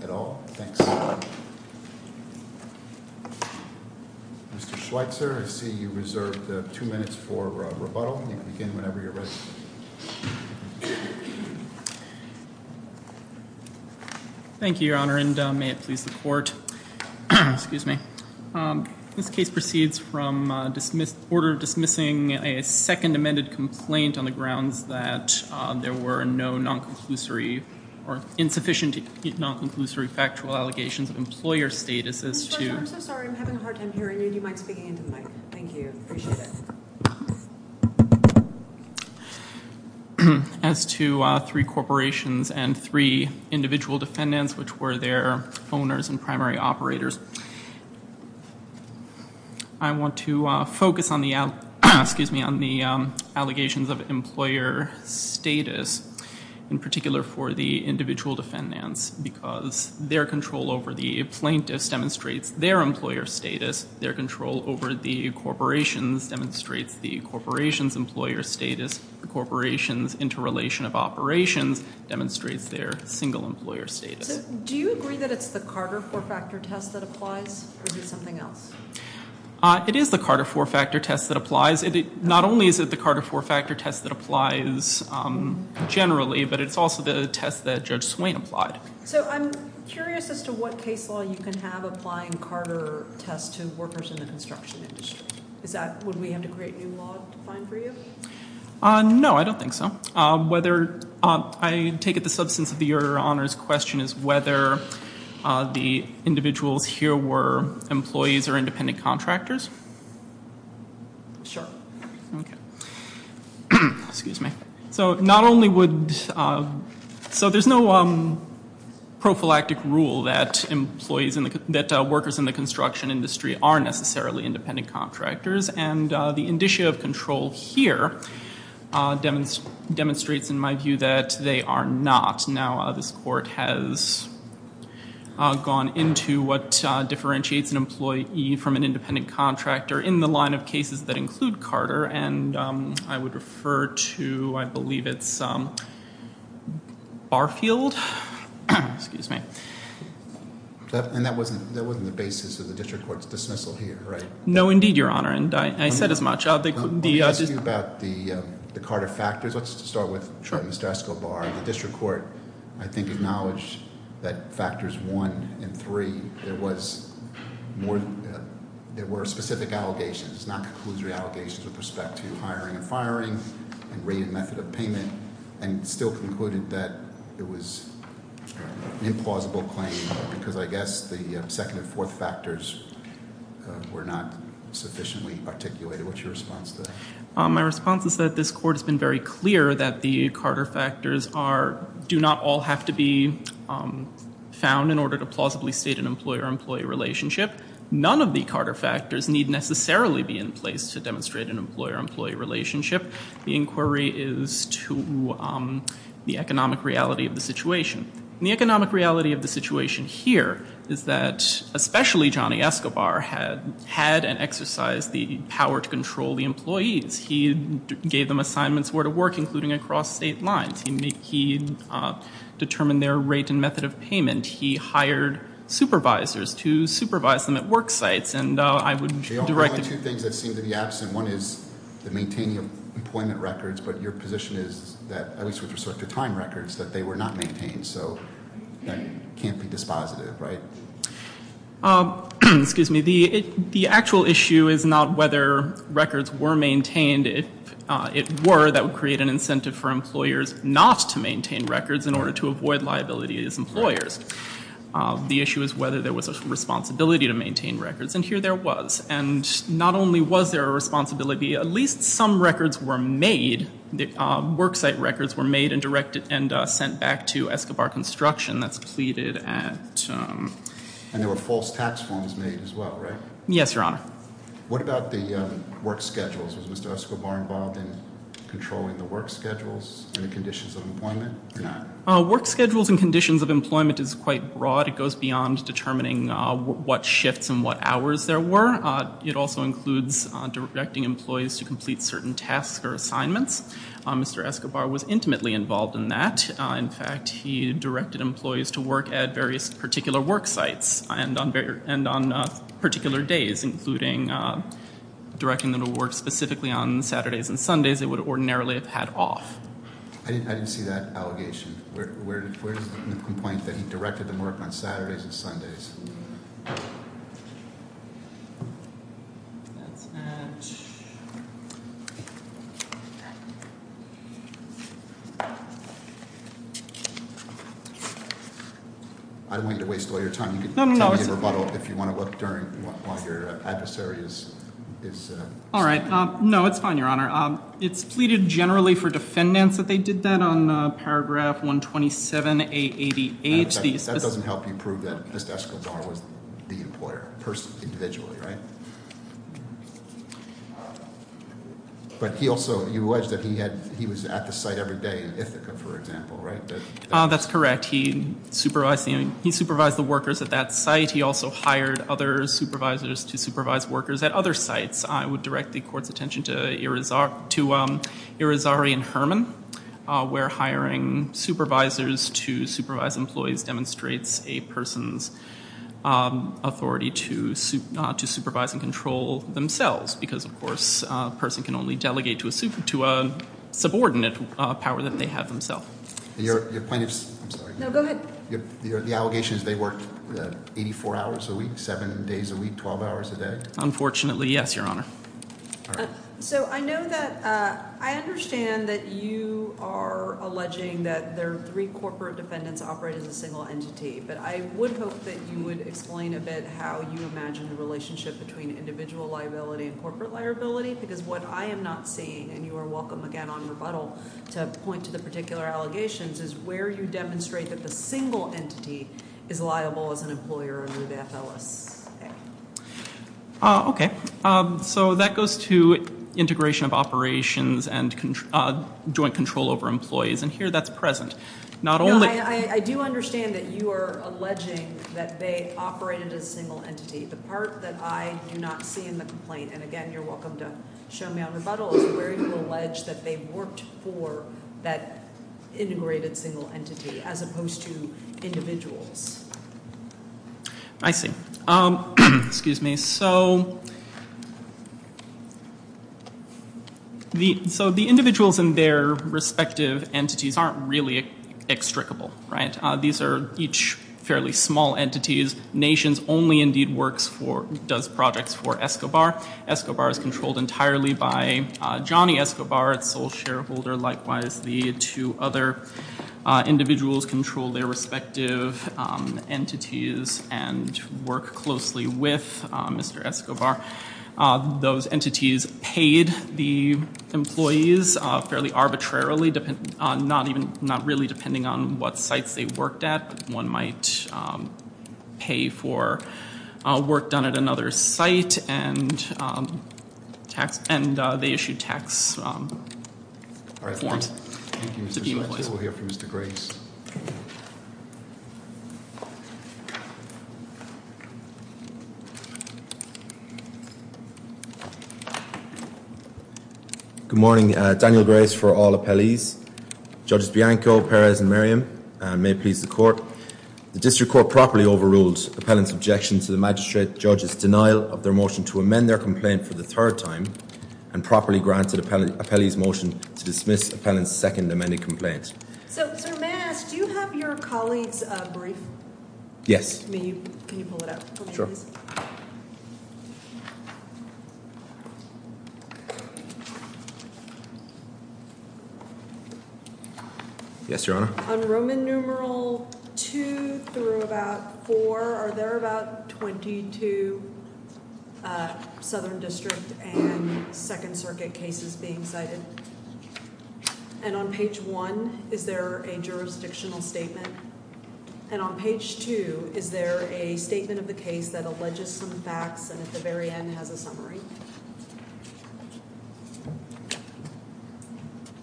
at all? Thanks. Mr. Schweitzer, I see you reserved two minutes for rebuttal. You can begin whenever you're ready. Thank you, Your Honor, and may it please the Court. This case proceeds from order of dismissing a second amended complaint on the grounds that the there were no non-conclusory or insufficient non-conclusory factual allegations of employer status as to... Mr. Schweitzer, I'm so sorry. I'm having a hard time hearing you. Do you mind speaking into the mic? Thank you. I appreciate it. As to three corporations and three individual defendants, which were their owners and primary operators, I want to focus on the allegations of employer status as to whether or not they were employer status, in particular for the individual defendants, because their control over the plaintiffs demonstrates their employer status. Their control over the corporations demonstrates the corporations' employer status. The corporations' interrelation of operations demonstrates their single employer status. So do you agree that it's the Carter four-factor test that applies, or is it something else? It is the Carter four-factor test that applies generally, but it's also the test that Judge Swain applied. So I'm curious as to what case law you can have applying Carter tests to workers in the construction industry. Would we have to create new law to find for you? No, I don't think so. I take it the substance of your Honor's question is whether the individuals here were employees or independent contractors? Sure. Excuse me. So there's no prophylactic rule that workers in the construction industry are necessarily independent contractors, and the indicia of control here demonstrates, in my view, that they are not. Now, this Court has gone into what differentiates an employee from an employee, and I'm going to turn it over to, I believe it's Barfield. Excuse me. And that wasn't the basis of the District Court's dismissal here, right? No, indeed, Your Honor, and I said as much. Let me ask you about the Carter factors. Let's start with Mr. Escobar. The District Court, I think, acknowledged that factors one and three, there were specific allegations, non-conclusory allegations with respect to hiring and firing, and rate and method of payment, and still concluded that it was an implausible claim, because I guess the second and fourth factors were not sufficiently articulated. What's your response to that? My response is that this Court has been very clear that the Carter factors do not all have to be found in order to plausibly state an employer-employee relationship. None of the Carter factors need necessarily be in place to demonstrate an employer-employee relationship. The inquiry is to the economic reality of the situation. The economic reality of the situation here is that, especially Johnny Escobar, had and exercised the power to control the employees. He gave them assignments where to work, including across state lines. He determined their rate and method of payment. He hired supervisors to do that. There are only two things that seem to be absent. One is the maintaining of employment records, but your position is that, at least with respect to time records, that they were not maintained. So that can't be dispositive, right? Excuse me. The actual issue is not whether records were maintained. It were that would create an incentive for employers not to maintain records in order to avoid liability as employers. The question is, not only was there a responsibility, at least some records were made, worksite records were made and directed and sent back to Escobar construction. That's pleaded at... And there were false tax forms made as well, right? Yes, Your Honor. What about the work schedules? Was Mr. Escobar involved in controlling the work schedules and the conditions of employment or not? Work schedules and conditions of employment is quite broad. It goes beyond determining what shifts and what hours there were. It also includes directing employees to complete certain tasks or assignments. Mr. Escobar was intimately involved in that. In fact, he directed employees to work at various particular worksites and on particular days, including directing them to work specifically on Saturdays and Sundays they would ordinarily have had off. I didn't see that allegation. Where is the complaint that he directed them to work on Saturdays and Sundays? That's at... I don't want you to waste all your time. You can tell me in rebuttal if you want to look while your adversary is... All right. No, it's fine, Your Honor. It's pleaded generally for in paragraph 127A88. That doesn't help you prove that Mr. Escobar was the employer individually, right? But he also alleged that he was at the site every day in Ithaca, for example, right? That's correct. He supervised the workers at that site. He also hired other supervisors to supervise workers at other sites. I would direct the court's attention to Irizarry and Herman. We're hiring... We're hiring supervisors to supervise employees demonstrates a person's authority to supervise and control themselves because, of course, a person can only delegate to a subordinate power that they have themselves. Your plaintiff's... I'm sorry. No, go ahead. The allegation is they work 84 hours a week, 7 days a week, 12 hours a day? Unfortunately, yes, Your Honor. So I know that... I understand that you are alleging that their three corporate defendants operate as a single entity. But I would hope that you would explain a bit how you imagine the relationship between individual liability and corporate liability because what I am not seeing, and you are welcome again on rebuttal to point to the particular allegations, is where you demonstrate that the single entity is liable as an employer under the FLSA. Okay. So that goes to integration of operations and joint control over employees. And here that's present. Not only... No, I do understand that you are alleging that they operated as a single entity. The part that I do not see in the complaint, and again, you're welcome to show me on rebuttal, is where you allege that they worked for that integrated single entity as opposed to individuals. I see. Excuse me. So the individuals and their respective entities aren't really extricable, right? These are each fairly small entities. Nations only indeed does projects for Escobar. Escobar is controlled entirely by Johnny Escobar, its sole owner, and it's controlled entirely by Johnny Escobar. So the entities and work closely with Mr. Escobar, those entities paid the employees fairly arbitrarily, not really depending on what sites they worked at. One might pay for work done at another site, and they issued tax forms to the employees. Thank you, Mr. Schultz. We'll hear from Mr. Grace. Good morning. Daniel Grace for all appellees. Judges Bianco, Perez, and Merriam. May it please the court. The district court properly overruled appellant's objection to the magistrate judge's denial of their motion to amend their complaint for the third time, and properly granted appellee's motion to dismiss appellant's second amended complaint. So, sir, may I ask, do you have your statement? Yes. Can you pull it up for me, please? Yes, Your Honor. On Roman numeral two through about four, are there about 22 Southern District and Second Circuit cases being cited? And on page one, is there a jurisdictional statement? And on page two, is there a statement of the case that alleges some facts and at the very end has a summary?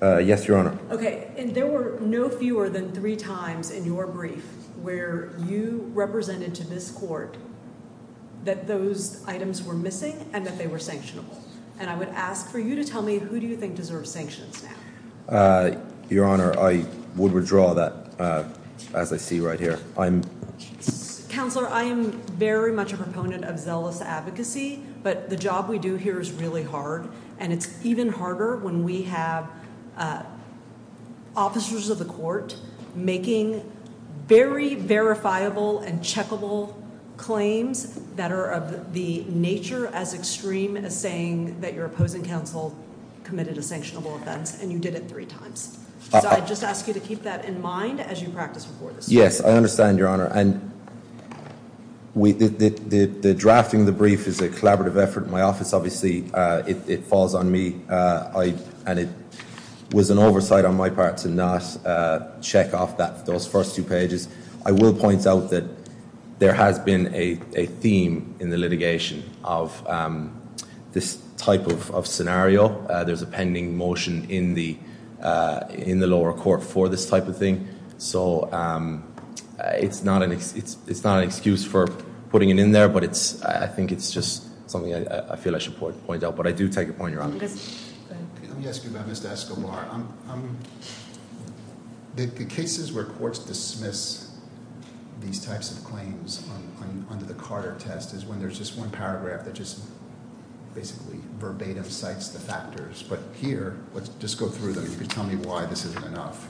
Yes, Your Honor. Okay. And there were no fewer than three times in your brief where you represented to this court that those items were missing and that they were sanctionable. And I would ask for you to tell me who do you think deserves sanctions now? Your Honor, I would withdraw that as I see right here. Counselor, I am very much a proponent of zealous advocacy, but the job we do here is really hard. And it's even harder when we have officers of the court making very verifiable and checkable claims that are of the nature as extreme as saying that your opposing counsel committed a sanctionable offense and you did it three times. So I just ask you to keep that in mind as you practice before this. Yes, I understand, Your Honor. And the drafting of the brief is a collaborative effort in my office. Obviously, it falls on me and it was an oversight on my part to not check off those first two pages. I will point out that there has been a theme in the litigation of this type of scenario. There's a pending motion in the lower court for this type of thing. So it's not an excuse for putting it in there, but I think it's just something I feel I should point out. But I do take your point, Your Honor. Let me ask you about Mr. Escobar. The cases where courts dismiss these types of claims under the Carter test is when there's just one paragraph that just basically verbatim cites the factors. But here, let's just go through them. You can tell me why this isn't enough.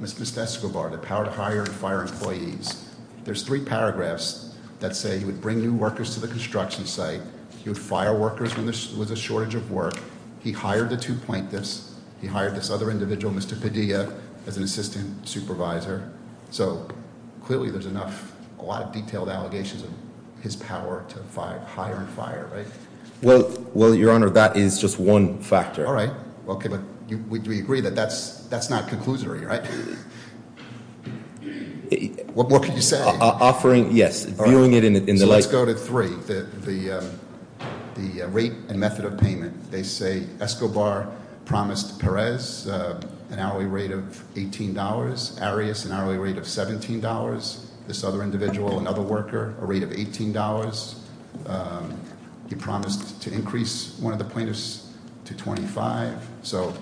Ms. Escobar, the power to hire and fire employees. There's three paragraphs that say he would bring new workers to the construction site. He would fire workers when there was a shortage of work. He hired the two plaintiffs. He hired this other individual, Mr. Padilla, as an assistant supervisor. So clearly there's a lot of detailed allegations of his power to hire and fire, right? Well, Your Honor, that is just one factor. All right. Okay, but we agree that that's not conclusory, right? What more can you say? Offering, yes. Viewing it in the light. So let's go to three. The rate and method of payment. They say Escobar promised Perez an hourly rate of $18. Arias an hourly rate of $17. This other individual, another worker, a rate of $18. He promised to increase one of the plaintiffs to $25. So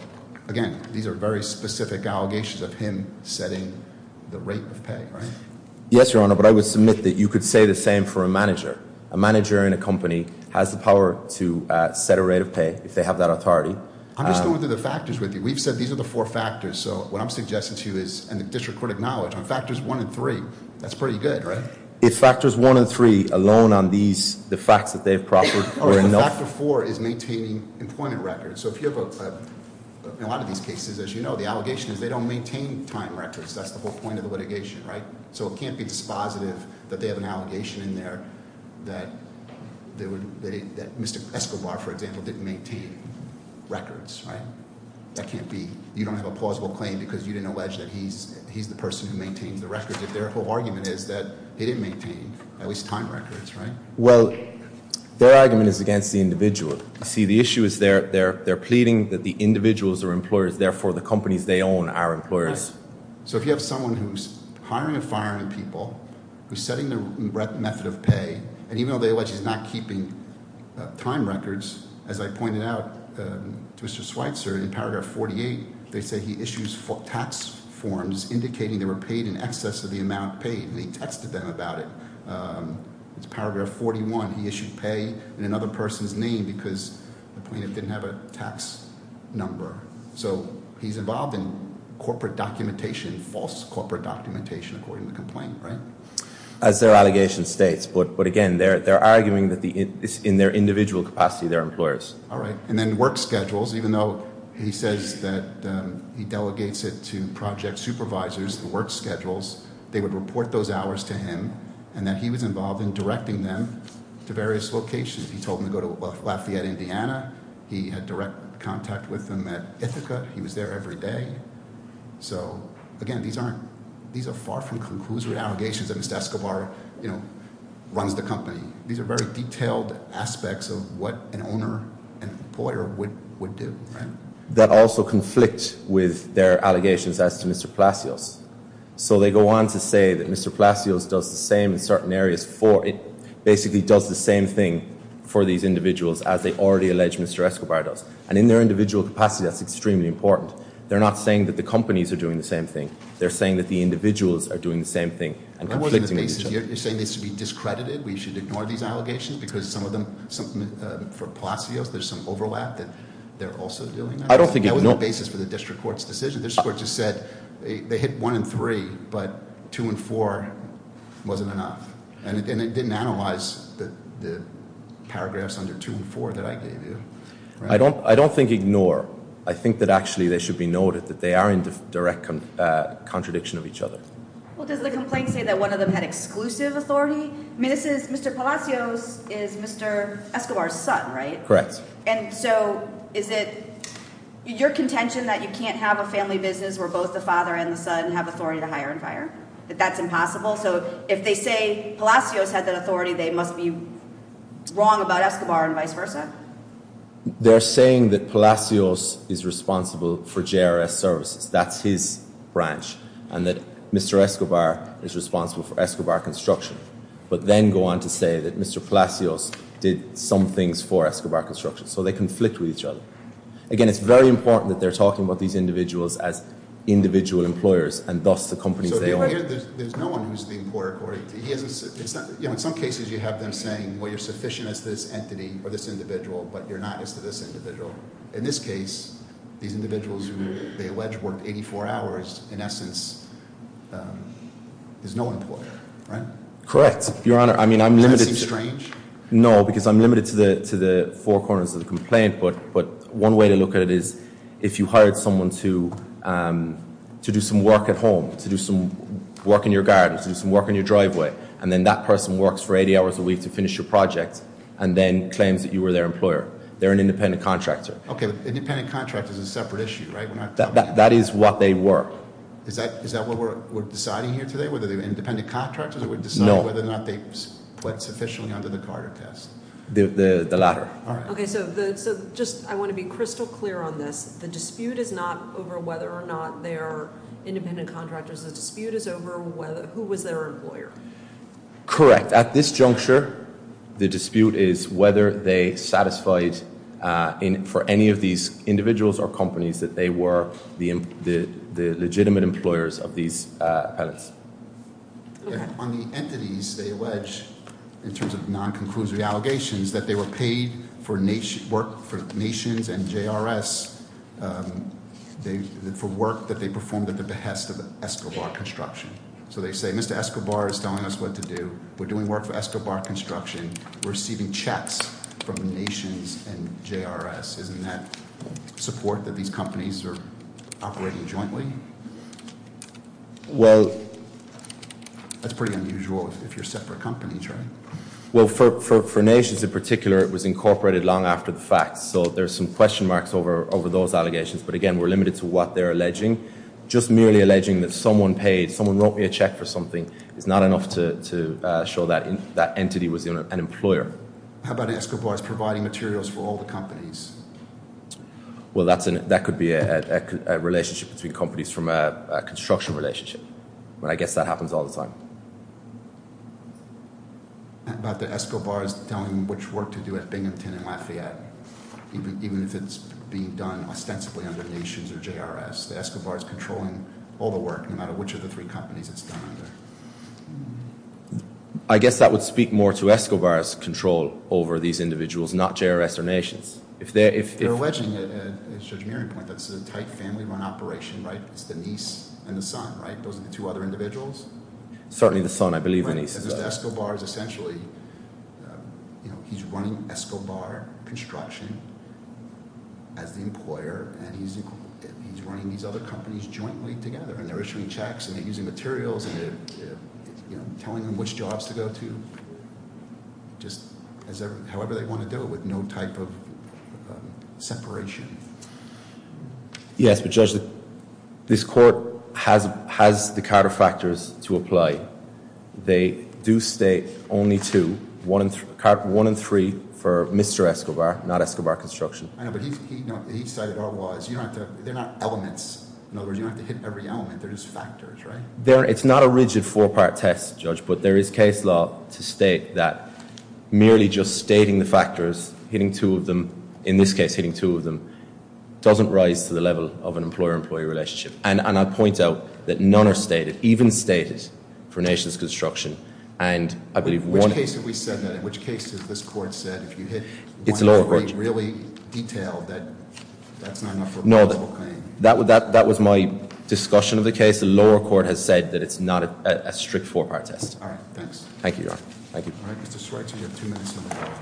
again, these are very specific allegations of him setting the rate of pay, right? Yes, Your Honor, but I would submit that you could say the same for a manager. A manager in a company has the power to set a rate of pay if they have that authority. I'm just going through the factors with you. We've said these are the four factors, so what I'm suggesting to you is, and the district court acknowledged, on factors one and three, that's pretty good, right? If factors one and three alone on these, the facts that they've proffered are enough. Factor four is maintaining employment records. So if you have a, in a lot of these cases, as you know, the allegation is they don't maintain time records. That's the whole point of the litigation, right? So it can't be dispositive that they have an allegation in there that Mr. Escobar, for example, didn't maintain records, right? That can't be. You don't have a plausible claim because you didn't allege that he's the person who maintains the records. If their whole argument is that he didn't maintain at least time records, right? Well, their argument is against the individual. You see, the issue is they're pleading that the individuals are employers, therefore the companies they own are employers. So if you have someone who's hiring and firing people, who's setting the method of pay, and even though they allege he's not keeping time records, as I pointed out to Mr. Schweitzer in paragraph 48, they say he issues tax forms indicating they were paid in excess of the amount paid, and he texted them about it. It's paragraph 41, he issued pay in another person's name because the plaintiff didn't have a tax number. So he's involved in corporate documentation, false corporate documentation, according to the complaint, right? As their allegation states, but again, they're arguing that it's in their individual capacity, they're employers. All right, and then work schedules, even though he says that he delegates it to project supervisors, the work schedules, they would report those hours to him, and that he was involved in directing them to various locations. He told them to go to Lafayette, Indiana, he had direct contact with them at Ithaca, he was there every day. So again, these are far from conclusory allegations that Mr. Escobar runs the company. These are very detailed aspects of what an owner, an employer would do, right? That also conflict with their allegations as to Mr. Plasios. So they go on to say that Mr. Plasios does the same in certain areas for, it basically does the same thing for these individuals as they already allege Mr. Escobar does. And in their individual capacity, that's extremely important. They're not saying that the companies are doing the same thing. They're saying that the individuals are doing the same thing and conflicting with each other. You're saying this should be discredited, we should ignore these allegations? Because some of them, for Plasios, there's some overlap that they're also doing that. That was the basis for the district court's decision. The district court just said, they hit one and three, but two and four wasn't enough. And it didn't analyze the paragraphs under two and four that I gave you. I don't think ignore. I think that actually they should be noted that they are in direct contradiction of each other. Well, does the complaint say that one of them had exclusive authority? Mr. Plasios is Mr. Escobar's son, right? Correct. And so is it your contention that you can't have a family business where both the father and the son have authority to hire and fire, that that's impossible? So if they say Plasios had that authority, they must be wrong about Escobar and vice versa? They're saying that Plasios is responsible for JRS services. That's his branch, and that Mr. Escobar is responsible for Escobar construction. But then go on to say that Mr. Plasios did some things for Escobar construction. So they conflict with each other. Again, it's very important that they're talking about these individuals as individual employers, and thus the companies they own. So if you look here, there's no one who's being poor according to, in some cases you have them saying, well, you're sufficient as this entity or this individual, but you're not as to this individual. In this case, these individuals who they allege worked 84 hours, in essence, there's no employer, right? Correct, your honor. I mean, I'm limited- No, because I'm limited to the four corners of the complaint, but one way to look at it is if you hired someone to do some work at home, to do some work in your garden, to do some work in your driveway, and then that person works for 80 hours a week to finish your project, and then claims that you were their employer. They're an independent contractor. Okay, but independent contractor is a separate issue, right? That is what they work. Is that what we're deciding here today, whether they're independent contractors or we're deciding whether or not they put sufficiently under the Carter test? The latter. All right. Okay, so I want to be crystal clear on this. The dispute is not over whether or not they are independent contractors. The dispute is over who was their employer. Correct, at this juncture, the dispute is whether they satisfied for any of these individuals or companies that they were the legitimate employers of these appellants. On the entities, they allege, in terms of non-conclusive allegations, that they were paid for work for Nations and JRS for work that they performed at the behest of Escobar Construction. So they say, Mr. Escobar is telling us what to do. We're doing work for Escobar Construction. We're receiving checks from the Nations and JRS. Isn't that support that these companies are operating jointly? Well, that's pretty unusual if you're separate companies, right? Well, for Nations in particular, it was incorporated long after the fact. So there's some question marks over those allegations. But again, we're limited to what they're alleging. Just merely alleging that someone paid, someone wrote me a check for something is not enough to show that entity was an employer. How about Escobar's providing materials for all the companies? Well, that could be a relationship between companies from a construction relationship. But I guess that happens all the time. How about the Escobar's telling which work to do at Binghamton and Lafayette, even if it's being done ostensibly under Nations or JRS? The Escobar's controlling all the work, no matter which of the three companies it's done under. I guess that would speak more to Escobar's control over these individuals, not JRS or Nations. If they're- They're alleging, at Judge Meary's point, that it's a tight family run operation, right, it's the niece and the son, right? Those are the two other individuals. Certainly the son, I believe the niece. Right, because Escobar's essentially, he's running Escobar Construction as the employer, and he's running these other companies jointly together. And they're issuing checks, and they're using materials, and they're telling them which jobs to go to. Just however they want to do it, with no type of separation. Yes, but Judge, this court has the Carter factors to apply. They do state only two, one in three for Mr. Escobar, not Escobar Construction. I know, but he said it all was. You don't have to, they're not elements. In other words, you don't have to hit every element, they're just factors, right? They're, it's not a rigid four-part test, Judge, but there is case law to state that merely just stating the factors, hitting two of them, in this case hitting two of them, doesn't rise to the level of an employer-employee relationship. And I'll point out that none are stated, even stated, for Nations Construction. And I believe one- Which case have we said that? In which case has this court said, if you hit one of the three really detailed, that that's not enough for a possible claim? No, that was my discussion of the case. The lower court has said that it's not a strict four-part test. All right, thanks. Thank you, Your Honor. Thank you. All right, Mr. Schweitzer, you have two minutes on the floor.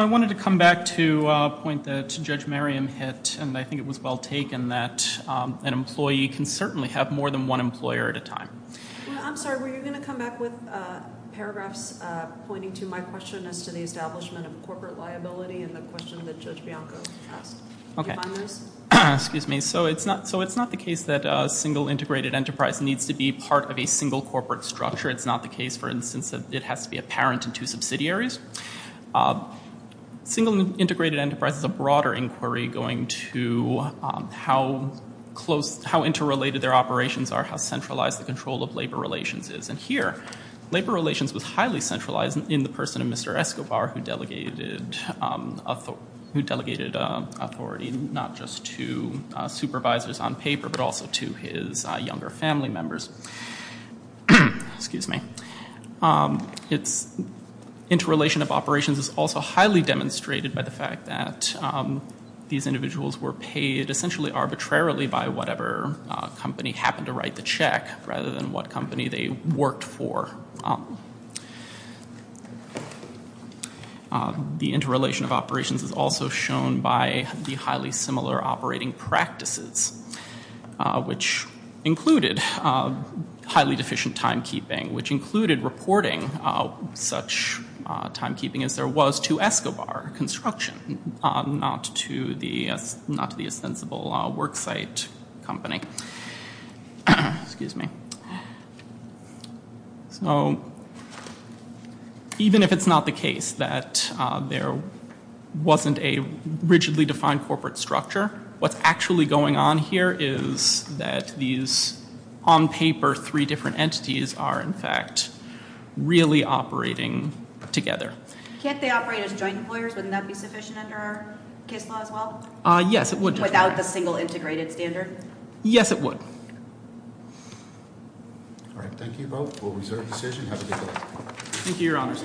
I wanted to come back to a point that Judge Merriam hit, and I think it was well taken that an employee can certainly have more than one employer at a time. Well, I'm sorry, were you going to come back with paragraphs pointing to my question as to the establishment of corporate liability and the question that Judge Bianco asked? Okay. Excuse me, so it's not, so it's not the case that a single integrated enterprise needs to be part of a single corporate structure. It's not the case, for instance, that it has to be a parent and two subsidiaries. Single integrated enterprise is a broader inquiry going to how close, how interrelated their operations are, how centralized the control of labor relations is. And here, labor relations was highly centralized in the person of Mr. Escobar, who delegated authority not just to supervisors on paper, but also to his younger family members. Excuse me. It's, interrelation of operations is also highly demonstrated by the fact that these individuals were paid essentially arbitrarily by whatever company happened to write the check, rather than what company they worked for. The interrelation of operations is also shown by the highly similar operating practices, which included highly deficient timekeeping, which included reporting such timekeeping as there was to Escobar Construction, not to the, not to the ostensible worksite company. Excuse me. So, even if it's not the case that there wasn't a rigidly defined corporate structure, what's actually going on here is that these, on paper, three different entities are, in fact, really operating together. Can't they operate as joint employers? Wouldn't that be sufficient under our case law as well? Yes, it would. Without the single integrated standard? Yes, it would. All right. Thank you both. We'll reserve the decision. Have a good day. Thank you, Your Honor.